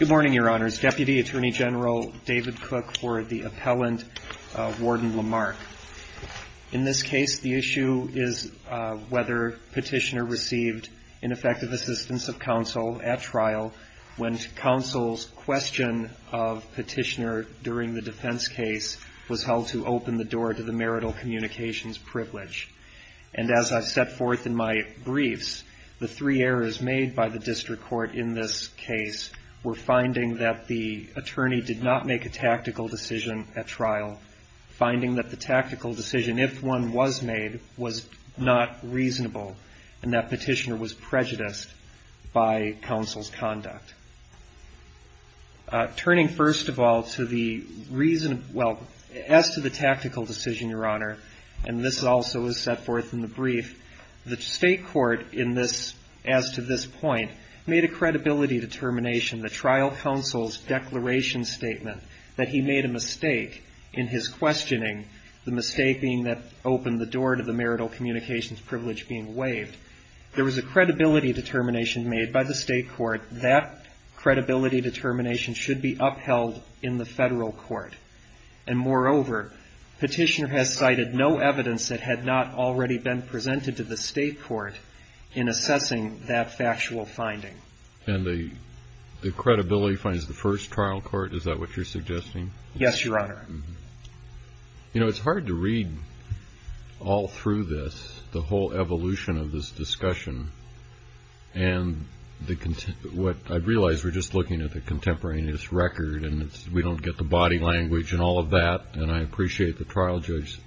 Good morning, Your Honors. Deputy Attorney General David Cook for the appellant, Warden Lamarque. In this case, the issue is whether Petitioner received ineffective assistance of counsel at trial when counsel's question of Petitioner during the defense case was held to open the door to the marital communications privilege. And as I've set forth in my briefs, the three errors made by the district court in this case were finding that the attorney did not make a tactical decision at trial, finding that the tactical decision, if one was made, was not reasonable, and that Petitioner was prejudiced by counsel's conduct. Turning first of all to the reason, well, as to the tactical decision, Your Honor, and this also is set forth in the brief, the state court in this, as to this point, made a credibility determination, the trial counsel's declaration statement, that he made a mistake in his questioning, the mistake being that opened the door to the marital communications privilege being waived. There was a credibility determination made by the state court. That credibility determination should be upheld in the federal court. And moreover, Petitioner has cited no evidence that had not already been presented to the state court in assessing that factual finding. And the, the credibility finds the first trial court, is that what you're suggesting? Yes, Your Honor. You know, it's hard to read all through this, the whole evolution of this discussion, and the, what, I realize we're just looking at the contemporaneous record and it's, we don't get the body language and all of that, and I appreciate the trial judge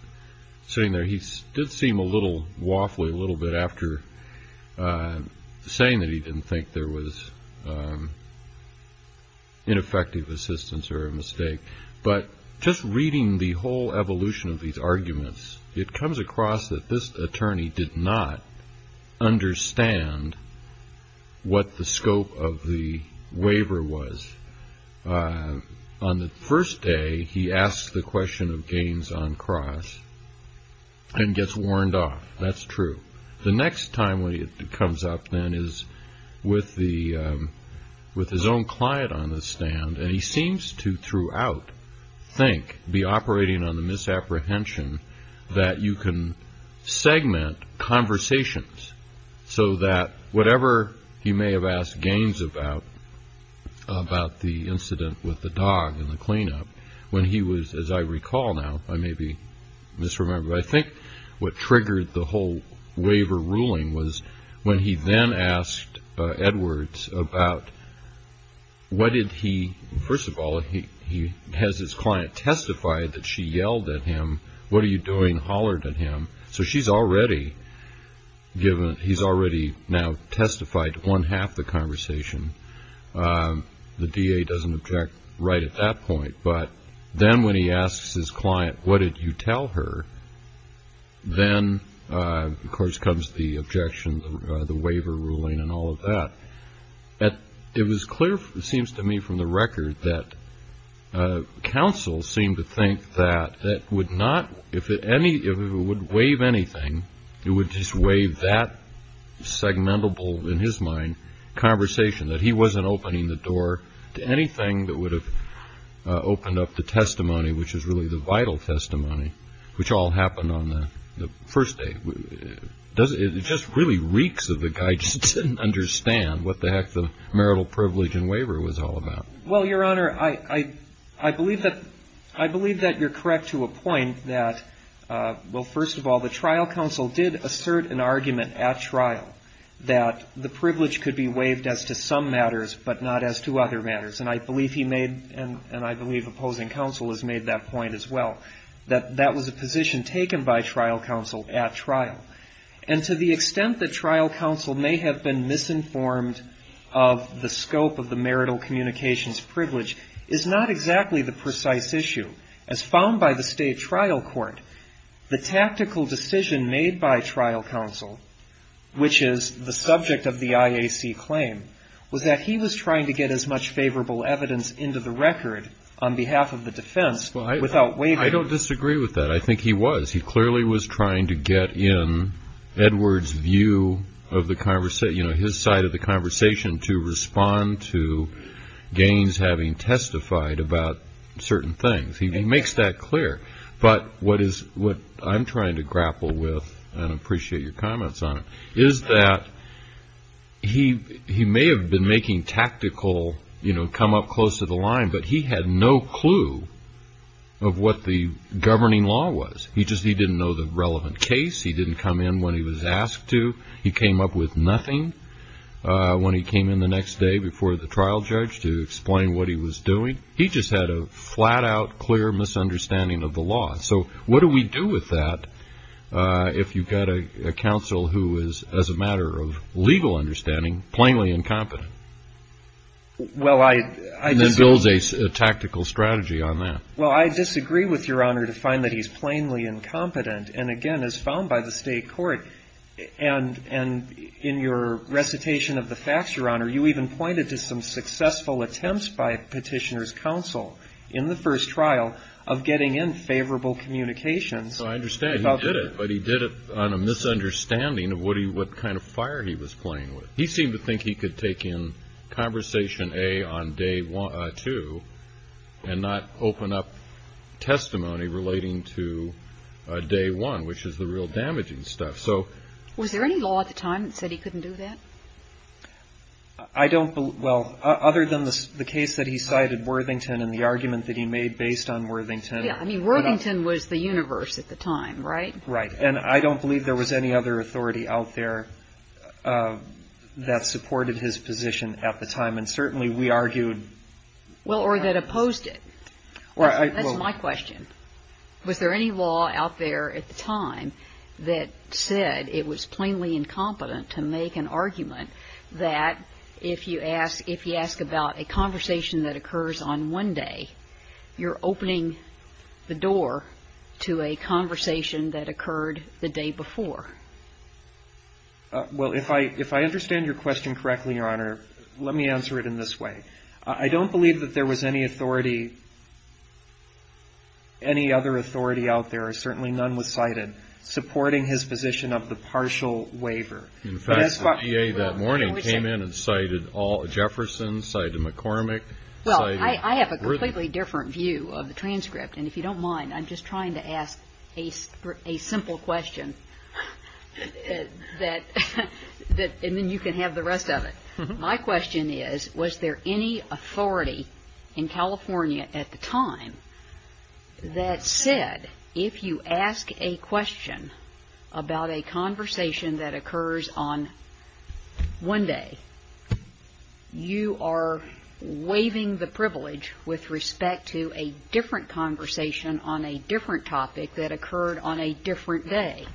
sitting there. He did seem a little waffly a little bit after saying that he didn't think there was ineffective assistance or a mistake. But just reading the whole evolution of these arguments, it he asked the question of Gaines on cross and gets warned off. That's true. The next time when it comes up then is with the, with his own client on the stand, and he seems to throughout think, be operating on the misapprehension, that you can segment conversations so that whatever he may have asked Gaines about, about the incident with the dog and the cleanup, when he was, as I recall now, I may be misremembering, but I think what triggered the whole waiver ruling was when he then asked Edwards about what did he, first of all, he has his client testify that she yelled at him, what are you doing, hollered at him. So she's already given, he's already now testified to one half the conversation. The DA doesn't object right at that point, but then when he asks his client, what did you tell her? Then, of course, comes the objection, the waiver ruling and all of that. It was clear, it seems to me from the record that counsel seemed to think that that would not, if any, if it would waive anything, it would just waive that segmentable, in his mind, conversation, that he wasn't opening the door to anything that would have opened up the testimony, which is really the vital testimony, which all happened on the first day. It just really reeks of the guy just didn't understand what the heck the marital privilege and waiver was all about. Well, Your Honor, I believe that you're correct to a point that, well, first of all, the trial counsel did assert an argument at trial that the privilege could be waived as to some matters, but not as to other matters. And I believe he made, and I believe opposing counsel has made that point as well, that that was a position taken by trial counsel at trial. And to the extent that trial counsel may have been misinformed of the scope of the marital communications privilege is not exactly the precise issue. As found by the state trial court, the tactical decision made by trial counsel, which is the subject of the IAC claim, was that he was trying to get as much favorable evidence into the record on behalf of the defense without waiving it. I don't disagree with that. I think he was. He clearly was trying to get in Edwards' view of the conversation, you know, his side of the conversation, to respond to Gaines having testified about certain things. He makes that clear. But what I'm trying to grapple with, and I appreciate your comments on it, is that he may have been making tactical, you know, come up close to the line, but he had no clue of what the governing law was. He just didn't know the relevant case. He didn't come in when he was asked to. He came up with nothing when he came in the next day before the trial judge to explain what he was doing. He just had a flat-out, clear misunderstanding of the law. So what do we do with that if you've got a counsel who is, as a matter of legal understanding, plainly incompetent, and then builds a tactical strategy on that? Well, I disagree with Your Honor to find that he's plainly incompetent. And again, as found by the state court, and in your recitation of the facts, Your Honor, you even pointed to some successful attempts by Petitioner's counsel in the first trial of getting in favorable communications. So I understand he did it, but he did it on a misunderstanding of what kind of fire he was playing with. He seemed to think he could take in Conversation A on Day 2 and not open up testimony relating to Day 1, which is the real damaging stuff. So... Was there any law at the time that said he couldn't do that? I don't believe... Well, other than the case that he cited Worthington and the argument that he made based on Worthington... Yeah, I mean, Worthington was the universe at the time, right? Right. And I don't believe there was any other authority out there that supported his position at the time. And certainly we argued... Well, or that opposed it. That's my question. Was there any law out there at the time that said it was plainly incompetent to make an argument that if you ask about a conversation that occurs on one day, you're opening the door to a conversation that occurred the day before? Well, if I understand your question correctly, Your Honor, let me answer it in this way. I don't believe that there was any authority, any other authority out there, certainly none was cited, supporting his position of the partial waiver. In fact, the DA that morning came in and cited Jefferson, cited McCormick, cited... Well, I have a completely different view of the transcript. And if you don't mind, I'm just trying to ask a simple question that... And then you can have the rest of it. My question is, was there any authority in California at the time that said if you ask a question about a conversation that occurs on one day, you are waiving the privilege with respect to a different conversation on a different topic that occurred on a different day?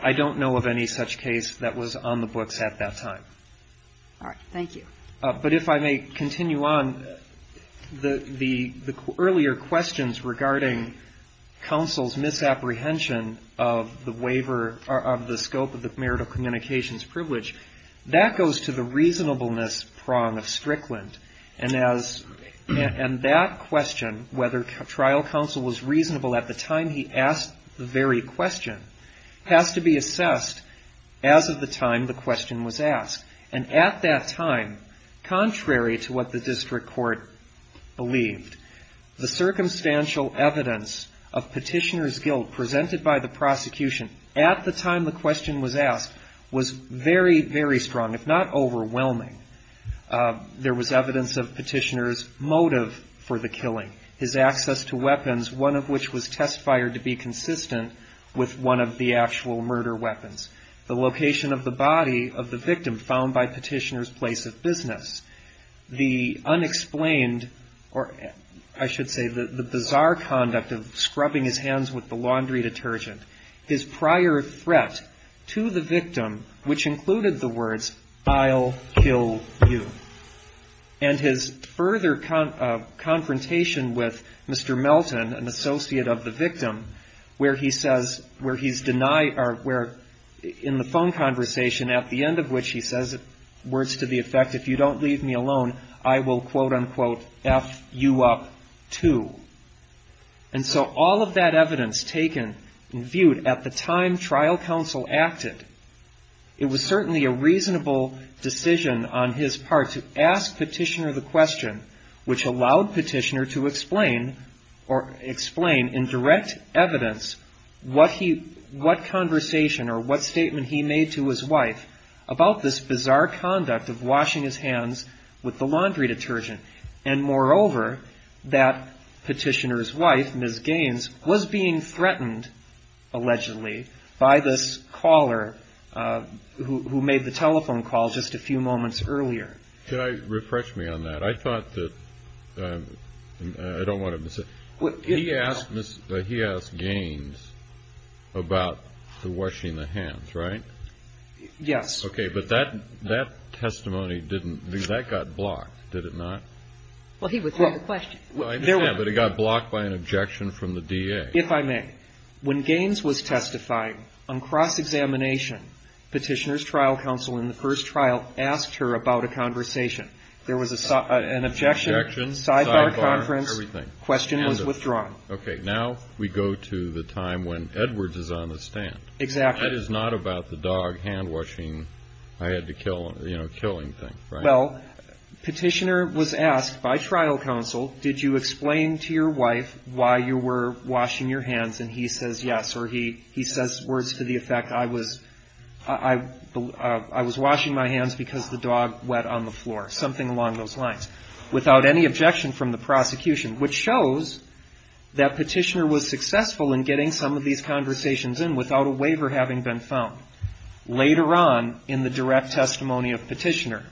I don't know of any such case that was on the books at that time. All right. Thank you. But if I may continue on, the earlier questions regarding counsel's misapplication of the scope of the marital communications privilege, that goes to the reasonableness prong of Strickland. And that question, whether trial counsel was reasonable at the time he asked the very question, has to be assessed as of the time the question was asked. And at that time, contrary to what the district court believed, the circumstantial evidence of Petitioner's guilt presented by the prosecution at the time the question was asked was very, very strong, if not overwhelming. There was evidence of Petitioner's motive for the killing, his access to weapons, one of which was test fired to be consistent with one of the actual murder weapons. The location of the body of the victim found by Petitioner's place of business. The unexplained or I should say the bizarre conduct of scrubbing his hands with the laundry detergent. His prior threat to the victim, which included the words, I'll kill you. And his further confrontation with Mr. Melton, an associate of the victim, where he says, where he's denied or where in the phone conversation at the end of which he says words to the effect, if you don't leave me alone, I will quote unquote F you up too. And so all of that evidence taken and viewed at the time trial counsel acted, it was certainly a reasonable decision on his part to ask Petitioner the question, which allowed Petitioner to explain or explain in direct evidence what he, what conversation or what statement he had with Mr. Melton about scrubbing his hands with the laundry detergent. And moreover, that Petitioner's wife, Ms. Gaines, was being threatened allegedly by this caller who made the telephone call just a few moments earlier. Can I refresh me on that? I thought that, I don't want to miss it. He asked Ms, he asked her about scrubbing the hands, right? Yes. Okay. But that, that testimony didn't, that got blocked, did it not? Well, he was asked the question. Well, I understand, but it got blocked by an objection from the DA. If I may. When Gaines was testifying on cross-examination, Petitioner's trial counsel in the first trial asked her about a conversation. There was an objection, sidebar conference, question was withdrawn. Okay. Now we go to the time when Edwards is on the stand. Exactly. That is not about the dog hand-washing, I had to kill, you know, killing thing, right? Well, Petitioner was asked by trial counsel, did you explain to your wife why you were washing your hands? And he says, yes. Or he, he says words to the effect, I was, I, I was washing my hands because the dog wet on the floor, something along those lines, without any objection from the prosecution, which shows that Petitioner was successful in getting some of these conversations in without a waiver having been found. Later on in the direct testimony of Petitioner,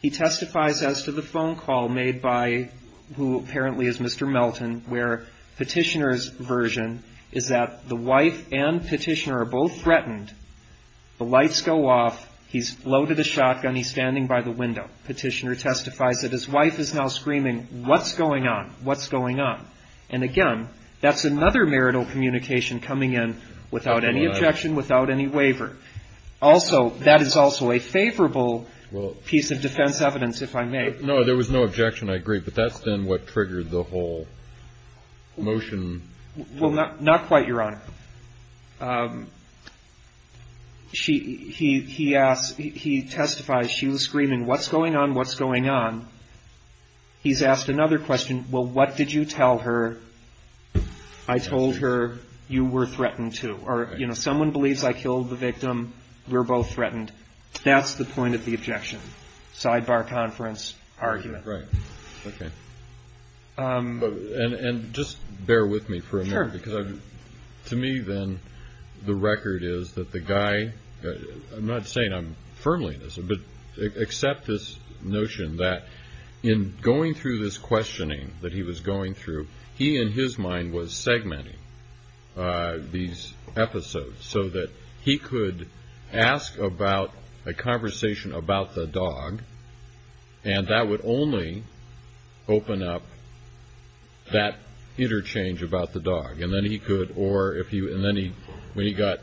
he testifies as to the phone call made by who apparently is Mr. Melton, where Petitioner's version is that the wife and Petitioner are both threatened. The lights go off. He's loaded a shotgun. He's standing by the window. Petitioner testifies that his wife is now screaming, what's going on? What's going on? And again, that's another marital communication coming in without any objection, without any waiver. Also, that is also a favorable piece of defense evidence, if I may. No, there was no objection. I agree. But that's then what triggered the whole motion. Well, not, not quite, Your Honor. She, he, he asked, he testifies, she was screaming, what's going on? What's going on? He's asked another question. Well, what did you tell her? I told her you were threatened, too. Or, you know, someone believes I killed the victim. We're both threatened. That's the point of the objection. Sidebar conference argument. Right. Okay. And, and just bear with me for a minute, because to me, then, the record is that the guy, I'm not saying I'm firmly in this, but accept this notion that in going through this questioning that he was going through, he, in his mind, was segmenting these episodes so that he could ask about a conversation about the dog, and that would only open up that interchange about the dog. And then he could, or if he, and then he, when he got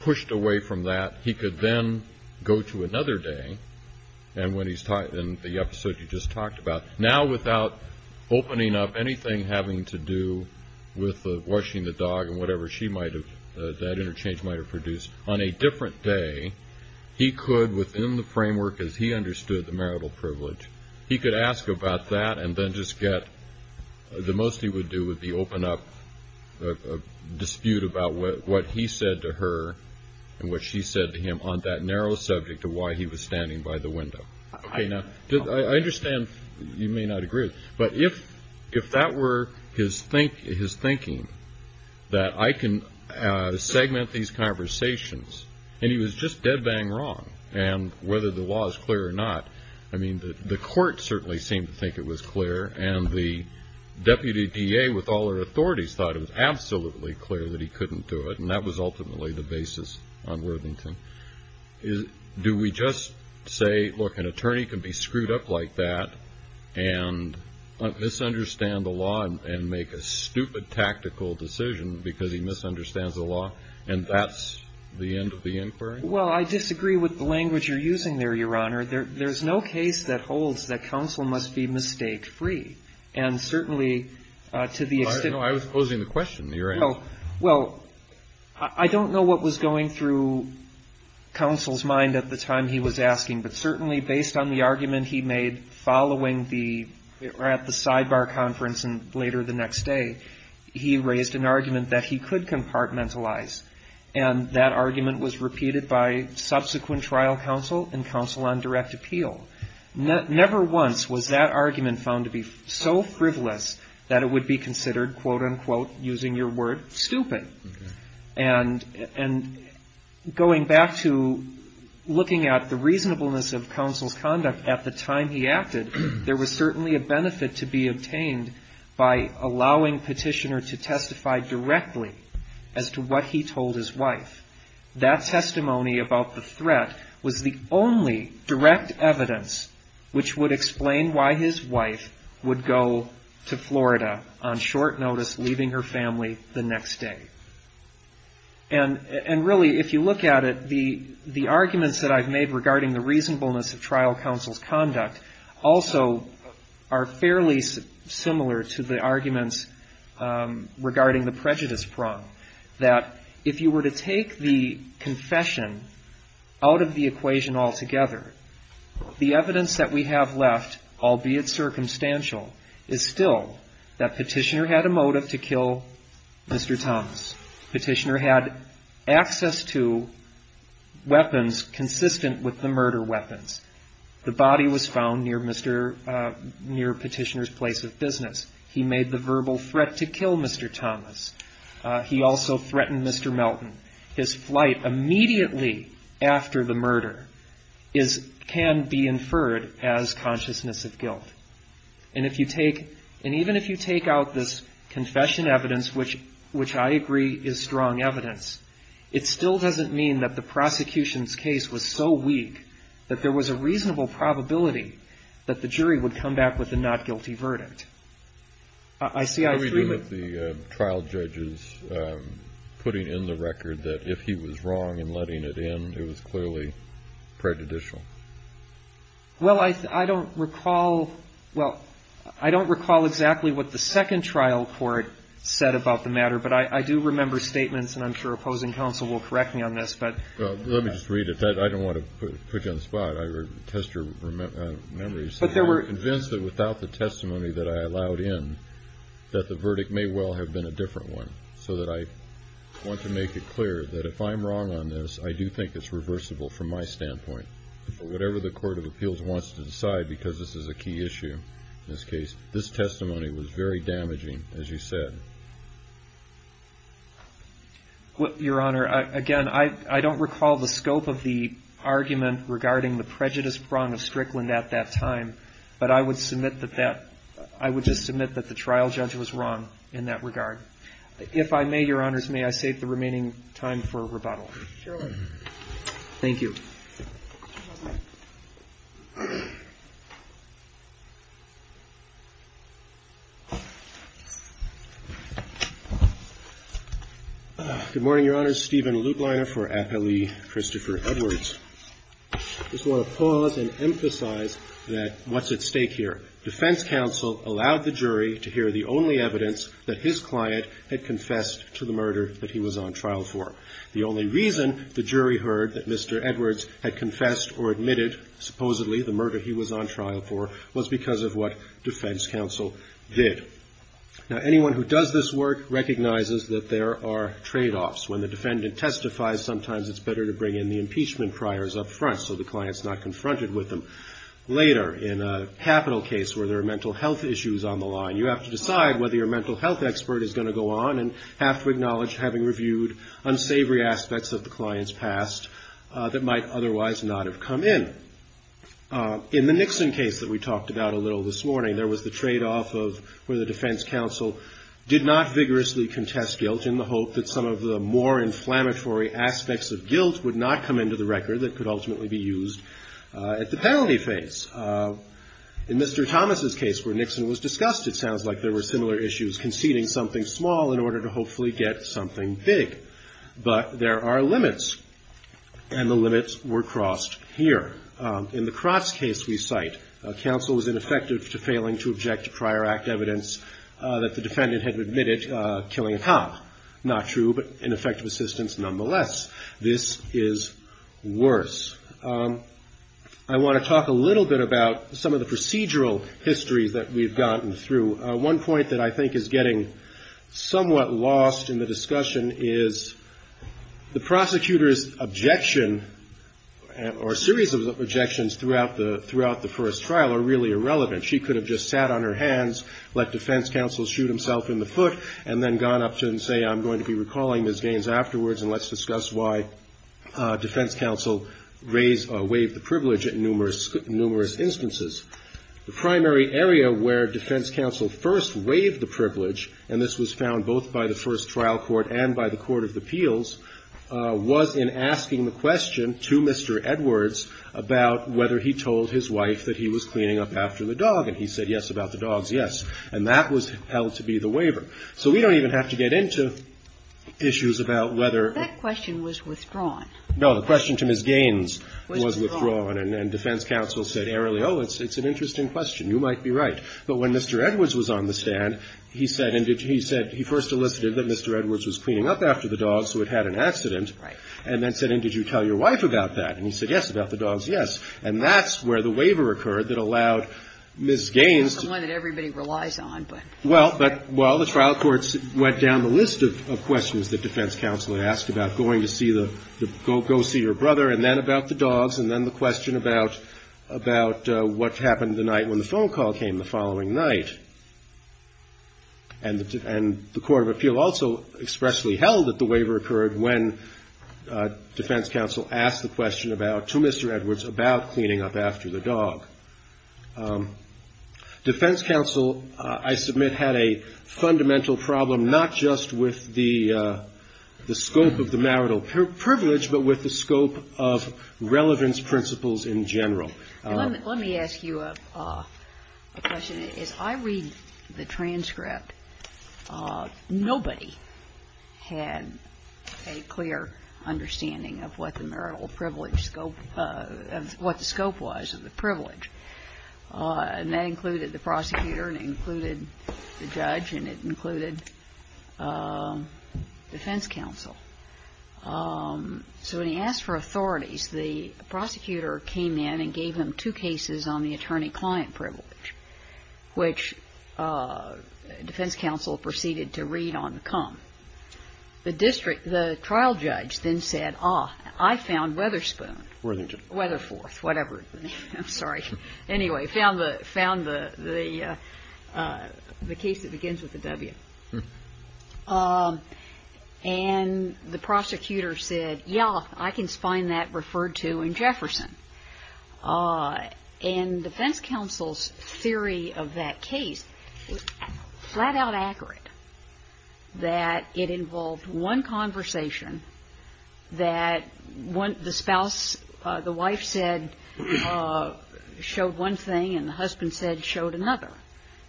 pushed away from that, he could then go to another day, and when he's, in the episode you just talked about, now without opening up anything having to do with washing the dog and whatever she might have, that interchange might have produced, on a different day, he could, within the framework as he understood the marital privilege, he could ask about that and then just get, the most he would do would be open up a dispute about what he said to her and what she said to him on that narrow subject of why he was standing by the window. Okay, now, I understand you may not agree with, but if that were his thinking, that I can segment these conversations, and he was just dead bang wrong, and whether the law is clear or not, I mean, the court certainly seemed to think it was clear, and the deputy DA with all her authorities thought it was absolutely clear that he couldn't do it, and that was ultimately the basis on Worthington. Do we just say, look, an attorney can be screwed up like that and misunderstand the law and make a stupid tactical decision because he misunderstands the law, and that's the end of the inquiry? Well, I disagree with the language you're using there, Your Honor. There's no case that holds that counsel must be mistake-free, and certainly to the extent... No, I was closing the question, Your Honor. Well, I don't know what was going through counsel's mind at the time he was asking, but certainly based on the argument he made following the, or at the sidebar conference later the next day, he raised an argument that he could compartmentalize, and that argument was repeated by subsequent trial counsel and counsel on direct appeal. Never once was that argument found to be so frivolous that it would be considered, quote, unquote, using your word, stupid. And going back to looking at the reasonableness of counsel's conduct at the time he acted, there was certainly a benefit to be obtained by allowing petitioner to testify directly as to what he told his wife. That testimony about the threat was the only direct evidence which would explain why his wife would go to Florida on short notice, leaving her family the next day. And really, if you look at it, the arguments that I've made regarding the reasonableness of trial counsel's conduct also are fairly similar to the arguments regarding the prejudice prong, that if you were to take the confession out of the equation altogether, the evidence that we have left, albeit circumstantial, is still that petitioner had a motive to kill Mr. Thomas. Petitioner had access to weapons consistent with the murder weapons. The body was found near Petitioner's place of business. He made the verbal threat to kill Mr. Thomas. He also threatened Mr. Melton. His flight immediately after the murder can be inferred as consciousness of guilt. And even if you take out this confession evidence, which I agree is strong evidence, it still doesn't mean that the prosecution's case was so weak that there was a reasonable probability that the jury would come back with a not guilty verdict. I see I've three but the trial judges putting in the record that if he was wrong and letting it in, it was clearly prejudicial. Well, I don't recall. Well, I don't recall exactly what the second trial court said about the matter, but I do remember statements and I'm sure opposing counsel will correct me on this, but let me just read it. I don't want to put you on the spot. I would test your memories, but they were convinced that without the testimony that I allowed in that the verdict may well have been a different one so that I want to make it clear that if I'm wrong on this, I do think it's reversible from my standpoint, whatever the court of appeals wants to decide because this is a key issue. In this case, this testimony was very damaging, as you said. Your Honor, again, I don't recall the scope of the argument regarding the prejudice prong of Strickland at that time, but I would submit that that I would just submit that the trial judge was wrong in that regard. If I may, Your Honors, may I save the remaining time for rebuttal? Thank you. Good morning, Your Honors. Stephen Lutleiner for Appellee Christopher Edwards. I just want to pause and emphasize that what's at stake here. Defense counsel allowed the jury to hear the only evidence that his client had confessed to the murder that he was on trial for. The only reason the jury heard that Mr. Edwards had confessed or admitted, supposedly, the murder he was on trial for was because of what defense counsel did. Now, anyone who does this work recognizes that there are tradeoffs. When the defendant testifies, sometimes it's better to bring in the impeachment priors up front so the client's not confronted with them. Later, in a capital case where there are mental health issues on the line, you have to decide whether your mental health expert is going to go on and have to acknowledge having reviewed unsavory aspects of the client's past that might otherwise not have come in. In the Nixon case that we talked about a little this morning, there was the tradeoff of where the defense counsel did not vigorously contest guilt in the hope that some of the more inflammatory aspects of guilt would not come into the record that could ultimately be used at the penalty phase. In Mr. Thomas' case where Nixon was discussed, it sounds like there were similar issues conceding something small in order to hopefully get something big. But there are limits, and the limits were crossed here. In the Crotts case we cite, counsel was ineffective to failing to object to prior act evidence that the defendant had admitted killing a cop. Not true, but ineffective assistance nonetheless. This is worse. I want to talk a little bit about some of the procedural histories that we've gotten through. One point that I think is getting somewhat lost in the discussion is the prosecutor's objection, or series of objections, throughout the first trial are really irrelevant. She could have just sat on her hands, let defense counsel shoot himself in the foot, and then gone up to him and say, I'm going to be recalling these gains afterwards, and let's discuss why defense counsel raised or waived the privilege in numerous instances. The primary area where defense counsel first waived the privilege, and this was found both by the first trial court and by the court of appeals, was in asking the question to Mr. Edwards about whether he told his wife that he was cleaning up after the dog, and he said yes, about the dog, yes. And that was held to be the waiver. So we don't even have to get into issues about whether the question was withdrawn. No, the question to Ms. Gaines was withdrawn, and defense counsel said, oh, it's an interesting question. You might be right. But when Mr. Edwards was on the stand, he said, and he said he first elicited that Mr. Edwards was cleaning up after the dog, so it had an accident, and then said, and did you tell your wife about that? And he said yes, about the dog, yes. And that's where the waiver occurred that allowed Ms. Gaines to. The one that everybody relies on, but. Well, but, well, the trial courts went down the list of questions that defense counsel had asked about, going to see the, go see your brother, and then about the dogs, and then the question about, about what happened the night when the phone call came the following night. And the court of appeal also expressly held that the waiver occurred when defense counsel asked the question about, to Mr. Edwards, about cleaning up after the dog. Defense counsel, I submit, had a fundamental problem, not just with the scope of the marital privilege, but with the scope of relevance principles in general. Let me ask you a question. As I read the transcript, nobody had a clear understanding of what the marital privilege scope, what the scope was of the privilege. And that included the prosecutor, and it included the judge, and it included defense counsel. So when he asked for authorities, the prosecutor came in and gave him two cases on the attorney-client privilege, which defense counsel proceeded to read on the come. The district, the trial judge then said, ah, I found Weatherspoon, Weatherforth, whatever, I'm sorry, anyway, found the case that begins with a W. And the prosecutor said, yeah, I can find that referred to in Jefferson. And defense counsel's theory of that case was flat-out accurate, that it involved one conversation, that the spouse, the wife said, showed one thing and the husband said, showed another,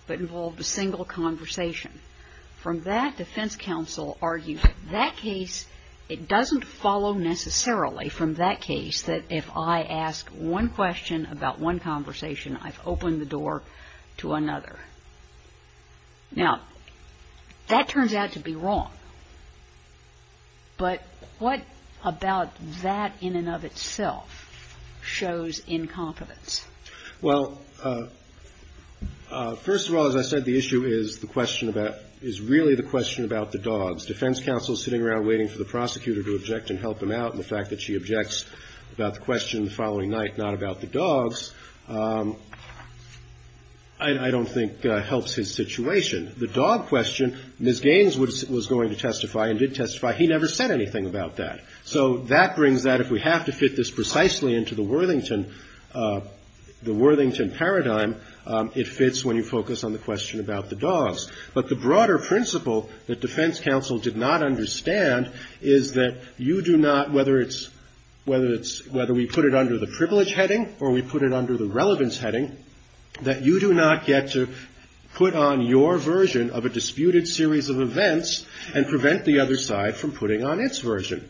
but involved a single conversation. From that, defense counsel argued that case, it doesn't follow necessarily from that case, that if I ask one question about one conversation, I've opened the door to another. Now, that turns out to be wrong, but what about that in and of itself shows incompetence? Well, first of all, as I said, the issue is the question about, is really the question about the dogs. Defense counsel's sitting around waiting for the prosecutor to object and help him out, and the fact that she objects about the question the following night, not about the dogs, I don't think helps his situation. The dog question, Ms. Gaines was going to testify and did testify, he never said anything about that. So that brings that, if we have to fit this precisely into the Worthington paradigm, it fits when you focus on the question about the dogs. But the broader principle that defense counsel did not understand is that you do not, whether it's, whether we put it under the privilege heading or we put it under the relevance heading, that you do not get to put on your version of a disputed series of events and prevent the other side from putting on its version.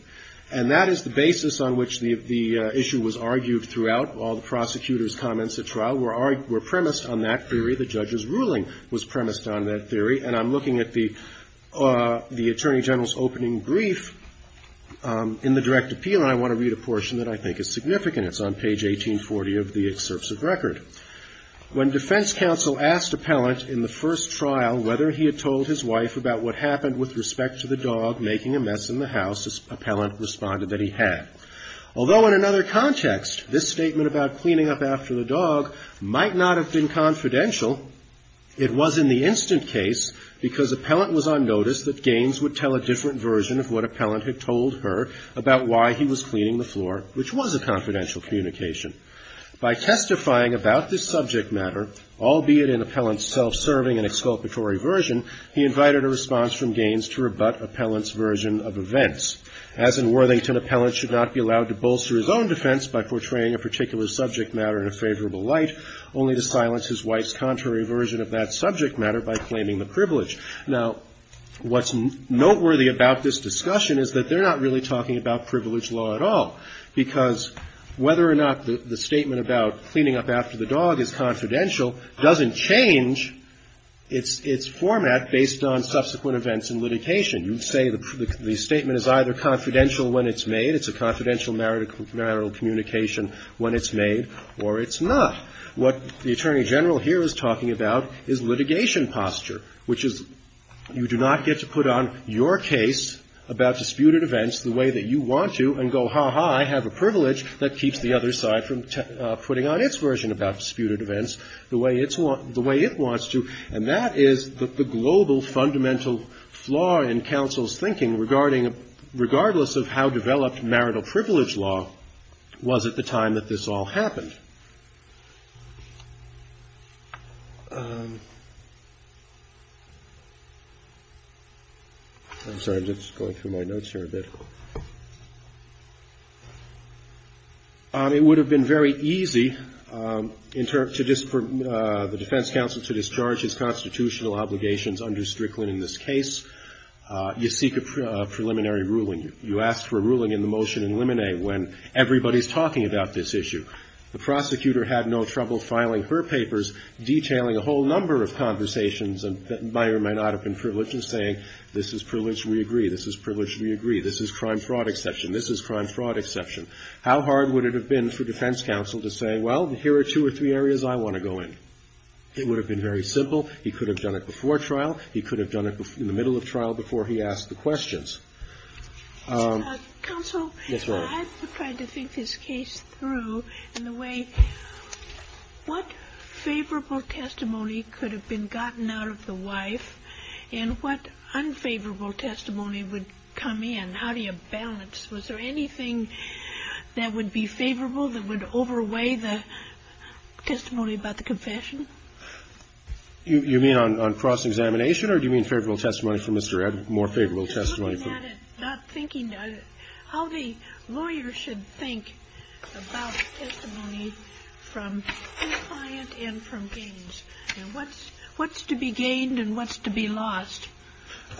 And that is the basis on which the issue was argued throughout. All the prosecutor's comments at trial were premised on that theory. The judge's ruling was premised on that theory, and I'm looking at the Attorney General's opening brief in the direct appeal, and I want to read a portion that I think is significant. It's on page 1840 of the excerpts of record. When defense counsel asked Appellant in the first trial whether he had told his wife about what happened with respect to the dog making a mess in the house, Appellant responded that he had. Although in another context, this statement about cleaning up after the dog might not have been confidential, it was in the instant case because Appellant was on notice that Gaines would tell a different version of what Appellant had told her about why he was cleaning the floor, which was a confidential communication. By testifying about this subject matter, albeit in Appellant's self-serving and exculpatory version, he invited a response from Gaines to rebut Appellant's version of events. As in Worthington, Appellant should not be allowed to bolster his own defense by portraying a particular subject matter in a favorable light, only to silence his wife's contrary version of that subject matter by claiming the privilege. Now, what's noteworthy about this discussion is that they're not really talking about privilege law at all, because whether or not the statement about cleaning up after the dog is confidential doesn't change its format based on subsequent events in litigation. You'd say the statement is either confidential when it's made, it's a confidential marital communication when it's made, or it's not. What the Attorney General here is talking about is litigation posture, which is you do not get to put on your case about disputed events the way that you want to and go, ha, ha, I have a privilege that keeps the other side from putting on its version about disputed events the way it wants to, and that is the global fundamental flaw in counsel's thinking, regardless of how developed marital privilege law was at the time that this all happened. I'm sorry, I'm just going through my notes here a bit. It would have been very easy for the defense counsel to discharge his constitutional obligations under Strickland in this case. You seek a preliminary ruling. You ask for a ruling in the motion in limine when everybody's talking about this issue. The prosecutor had no trouble filing her papers detailing a whole number of conversations that may or may not have been privileged in saying this is privileged, we agree, this is privileged, we agree, this is crime-fraud exception, this is crime-fraud exception. How hard would it have been for defense counsel to say, well, here are two or three areas I want to go in? It would have been very simple. He could have done it before trial, he could have done it in the middle of trial before he asked the questions. Counsel, I'm trying to think this case through in the way, what favorable testimony could have been gotten out of the wife, and what unfavorable testimony would come in? How do you balance? Was there anything that would be favorable that would overweigh the testimony about the confession? You mean on cross-examination, or do you mean favorable testimony from Mr. Ed, more favorable testimony? How the lawyer should think about testimony from compliant and from gains. What's to be gained and what's to be lost?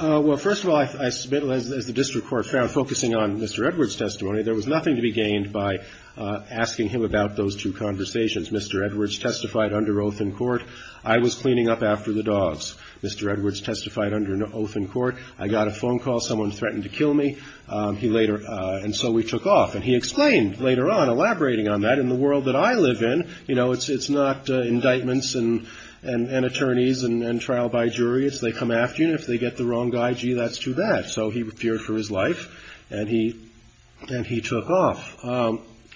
Well, first of all, I submit, as the district court found, focusing on Mr. Edwards' testimony, there was nothing to be gained by asking him about those two conversations. Mr. Edwards testified under oath in court, I was cleaning up after the dogs. Mr. Edwards testified under oath in court, I got a phone call, someone threatened to kill me, and so we took off. And he explained later on, elaborating on that, in the world that I live in, you know, it's not indictments and attorneys and trial by jury. It's they come after you, and if they get the wrong guy, gee, that's too bad. So he appeared for his life, and he took off.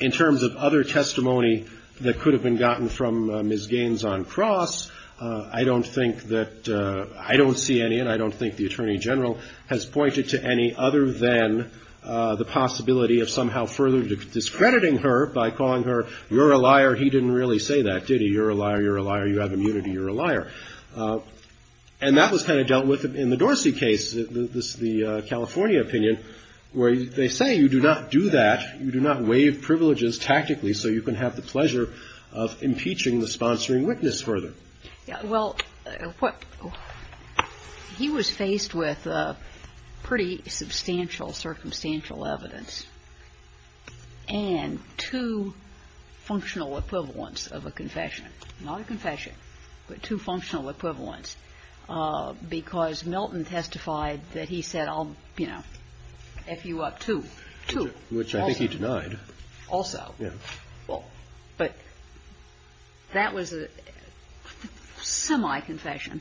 In terms of other testimony that could have been gotten from Ms. Gaines on cross, I don't think that the attorney general has pointed to any other than the possibility of somehow further discrediting her by calling her, you're a liar, he didn't really say that, did he? You're a liar, you're a liar, you have immunity, you're a liar. And that was kind of dealt with in the Dorsey case, the California opinion, where they say you do not do that, you do not waive privileges tactically so you can have the pleasure of impeaching the sponsoring witness further. Well, he was faced with pretty substantial, circumstantial evidence, and two functional equivalents of a confession. Not a confession, but two functional equivalents, because Milton testified that he said I'll, you know, F you up two. Which I think he denied. Also. But that was a semi-confession,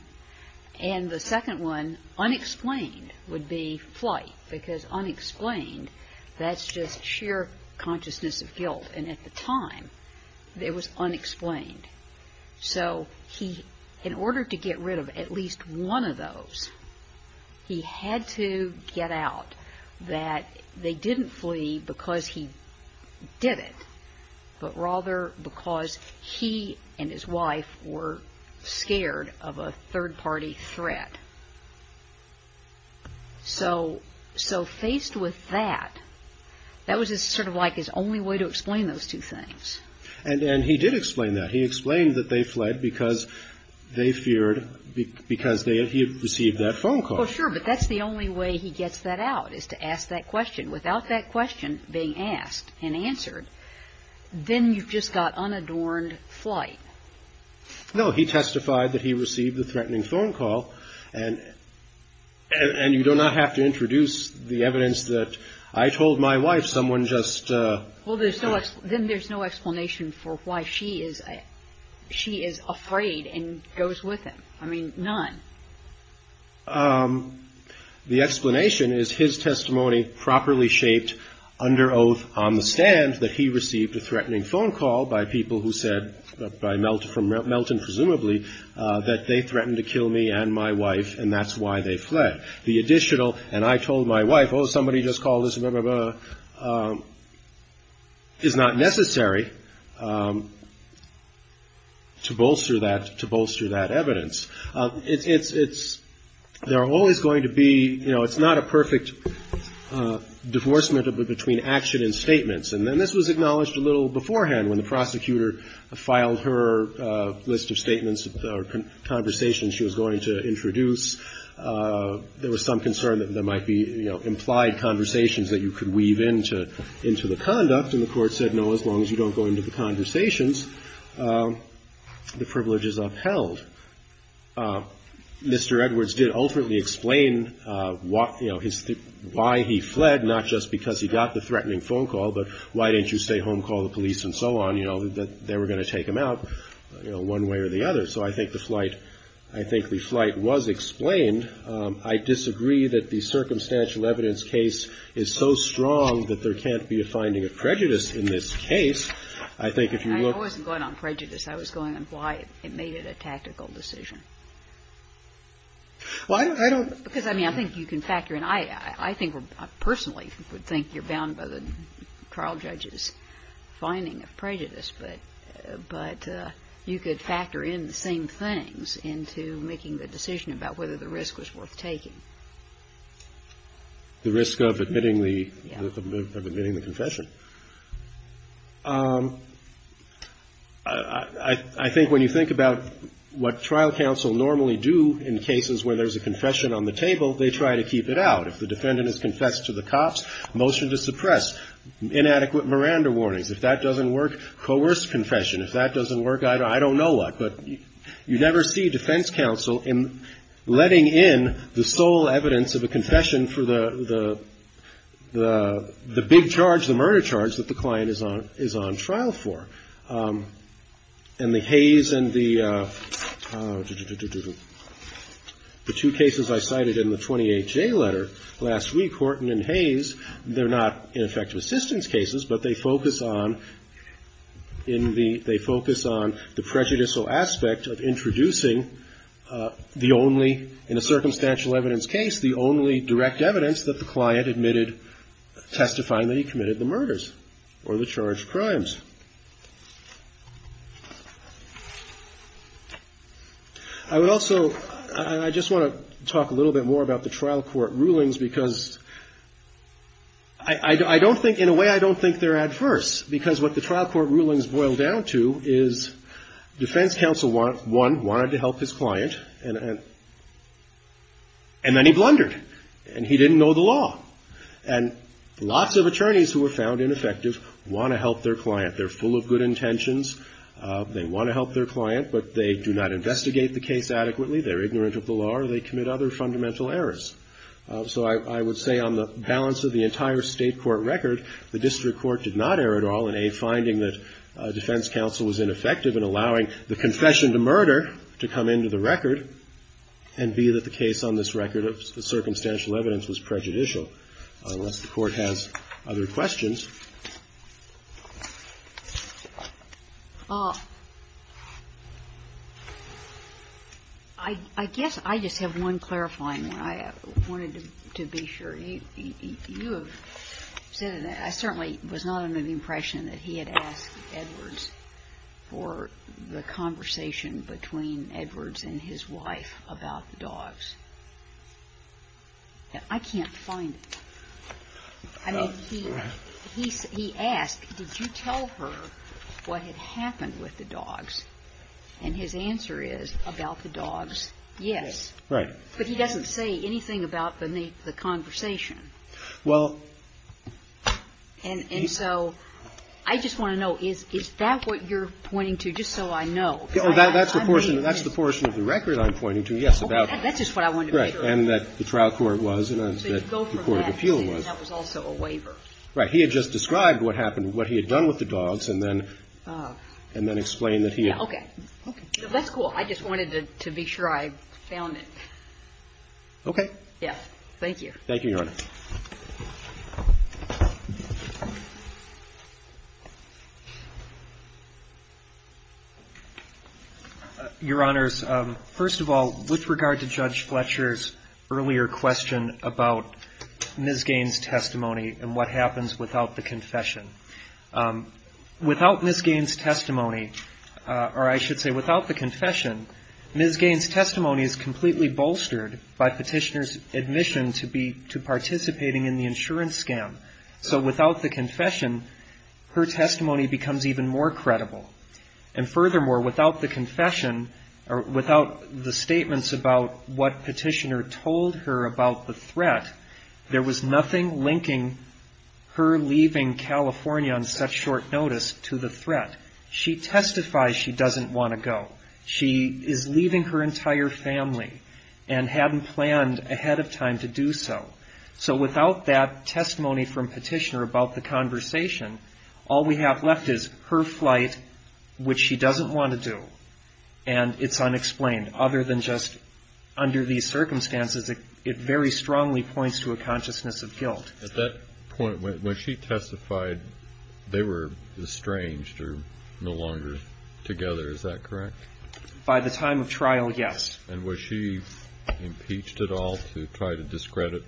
and the second one, unexplained, would be flight, because unexplained, that's just sheer consciousness of guilt. And at the time, it was unexplained. So he, in order to get rid of at least one of those, he had to get out that they didn't flee because he did it, but rather because he and his wife were scared of a third-party threat. So faced with that, that was sort of like his only way to explain those two things. And he did explain that. He explained that they fled because they feared, because he had received that phone call. Well, sure, but that's the only way he gets that out, is to ask that question. Without that question being asked and answered, then you've just got unadorned flight. No, he testified that he received a threatening phone call, and you do not have to introduce the evidence that I told my wife someone just... Well, then there's no explanation for why she is afraid and goes with him. I mean, none. The explanation is his testimony properly shaped under oath on the stand that he received a threatening phone call by people who said, by the time he got home from Melton, presumably, that they threatened to kill me and my wife, and that's why they fled. The additional, and I told my wife, oh, somebody just called us, blah, blah, blah, is not necessary to bolster that, to bolster that evidence. It's, there are always going to be, you know, it's not a perfect divorcement between action and statements. And then this was acknowledged a little beforehand when the prosecutor filed her list of statements or conversations she was going to introduce. There was some concern that there might be, you know, implied conversations that you could weave into, into the conduct. And the Court said, no, as long as you don't go into the conversations, the privilege is upheld. Mr. Edwards did ultimately explain what, you know, his, why he fled, not just because he got the threatening phone call, but why didn't you stay home, call the police, and so on, you know, that they were going to take him out, you know, one way or the other. So I think the flight, I think the flight was explained. I disagree that the circumstantial evidence case is so strong that there can't be a finding of prejudice in this case. I think if you look. I wasn't going on prejudice. I was going on why it made it a tactical decision. Well, I don't. Because, I mean, I think you can factor in. I think we're, I personally would think you're bound by the trial judge's finding of prejudice. But, but you could factor in the same things into making the decision about whether the risk was worth taking. The risk of admitting the, of admitting the confession. I think when you think about what trial counsel normally do in cases where there's a confession on the table, they try to keep it out. If the defendant has confessed to the cops, motion to suppress, inadequate Miranda warnings. If that doesn't work, coerce confession. If that doesn't work, I don't know what. But you never see defense counsel in letting in the sole evidence of a confession for the big charge, the murder charge, that the client is on trial for. And the Hayes and the two cases I cited in the 28-J letter last week, Horton and Hayes, they're not ineffective assistance cases. But they focus on, in the, they focus on the prejudicial aspect of introducing the only, in a circumstantial evidence case, the only direct evidence that the client admitted testifying that he committed the murders or the charged crimes. I would also, I just want to talk a little bit more about the trial court rulings. Because I don't think, in a way, I don't think they're adverse. Because what the trial court rulings boil down to is defense counsel, one, wanted to help his client, and then he blundered, and he didn't know the law. And lots of attorneys who were found ineffective want to help their client. They're full of good intentions. They want to help their client, but they do not investigate the case adequately. They're ignorant of the law, or they commit other fundamental errors. So I would say on the balance of the entire State court record, the district court did not err at all in, A, finding that defense counsel was ineffective in allowing the confession to murder to come into the record, and, B, that the case on this record of circumstantial evidence was prejudicial. Unless the Court has other questions. I guess I just have one clarifying one. I wanted to be sure. You have said that I certainly was not under the impression that he had asked Edwards for the conversation between Edwards and his wife about the dogs. I can't find it. I mean, he asked, did you tell her what had happened with the dogs? And his answer is, about the dogs, yes. But he doesn't say anything about the conversation. And so I just want to know, is that what you're pointing to, just so I know? That's the portion of the record I'm pointing to, yes. That's just what I wanted to make sure. And that the trial court was, and that the court of appeal was. And that was also a waiver. Right. He had just described what happened, what he had done with the dogs, and then explained that he had. Okay. That's cool. I just wanted to be sure I found it. Okay. Yes. Thank you. Thank you, Your Honor. Your Honors, first of all, with regard to Judge Fletcher's earlier question about Ms. Gaines' testimony and what happens without the confession, without Ms. Gaines' testimony, or I should say without the confession, Ms. Gaines' testimony is completely bolstered by Petitioner's admission to participating in the insurance scam. So without the confession, her testimony becomes even more credible. And furthermore, without the confession, or without the statements about what Petitioner told her about the threat, there was nothing linking her leaving California on such short notice to the threat. She testifies she doesn't want to go. She is leaving her entire family and hadn't planned ahead of time to do so. So without that testimony from Petitioner about the conversation, all we have left is her flight, which she doesn't want to do, and it's unexplained. Other than just under these circumstances, it very strongly points to a consciousness of guilt. At that point, when she testified, they were estranged or no longer together. Is that correct? By the time of trial, yes. And was she impeached at all to try to discredit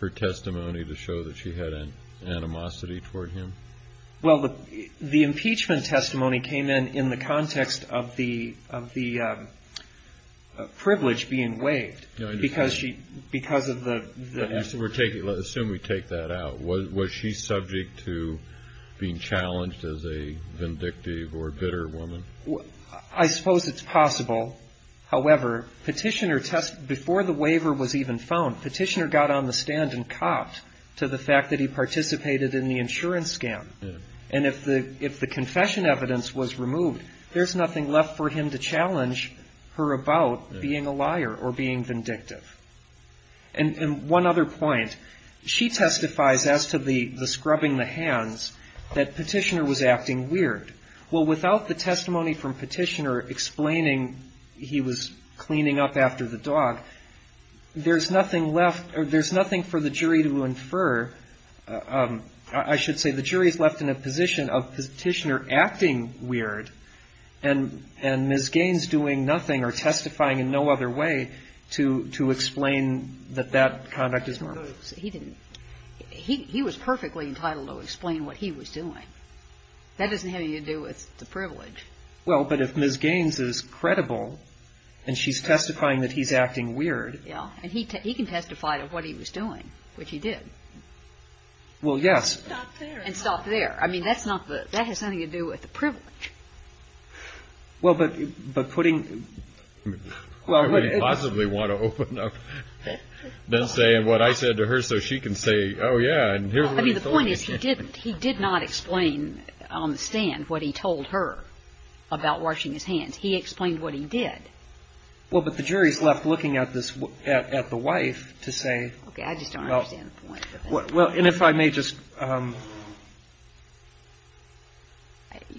her testimony to show that she had an animosity toward him? Well, the impeachment testimony came in in the context of the privilege being waived. I understand. Because of the- Let's assume we take that out. Was she subject to being challenged as a vindictive or bitter woman? I suppose it's possible. However, before the waiver was even found, Petitioner got on the stand and copped to the fact that he participated in the insurance scam. And if the confession evidence was removed, there's nothing left for him to challenge her about being a liar or being vindictive. And one other point. She testifies as to the scrubbing the hands that Petitioner was acting weird. Well, without the testimony from Petitioner explaining he was cleaning up after the dog, there's nothing left or there's nothing for the jury to infer. I should say the jury is left in a position of Petitioner acting weird and Ms. Gaines doing nothing or testifying in no other way to explain that that conduct is normal. He didn't. He was perfectly entitled to explain what he was doing. That doesn't have anything to do with the privilege. Well, but if Ms. Gaines is credible and she's testifying that he's acting weird- Yeah. And he can testify to what he was doing, which he did. Well, yes. And stop there. I mean, that's not the- that has nothing to do with the privilege. Well, but putting- Why would he possibly want to open up and say what I said to her so she can say, oh, yeah, and here's what he told me. I mean, the point is he didn't. He did not explain on the stand what he told her about washing his hands. He explained what he did. Well, but the jury's left looking at this at the wife to say- Okay. I just don't understand the point. Well, and if I may just-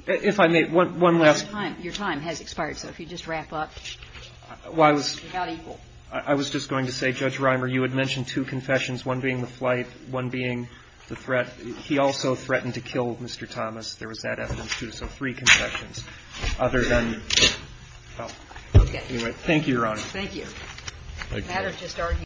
If I may, one last- Your time has expired, so if you just wrap up. Well, I was- Without equal. I was just going to say, Judge Reimer, you had mentioned two confessions, one being the flight, one being the threat. He also threatened to kill Mr. Thomas. There was that evidence, too. So three confessions other than- Okay. Anyway, thank you, Your Honor. Thank you. Thank you.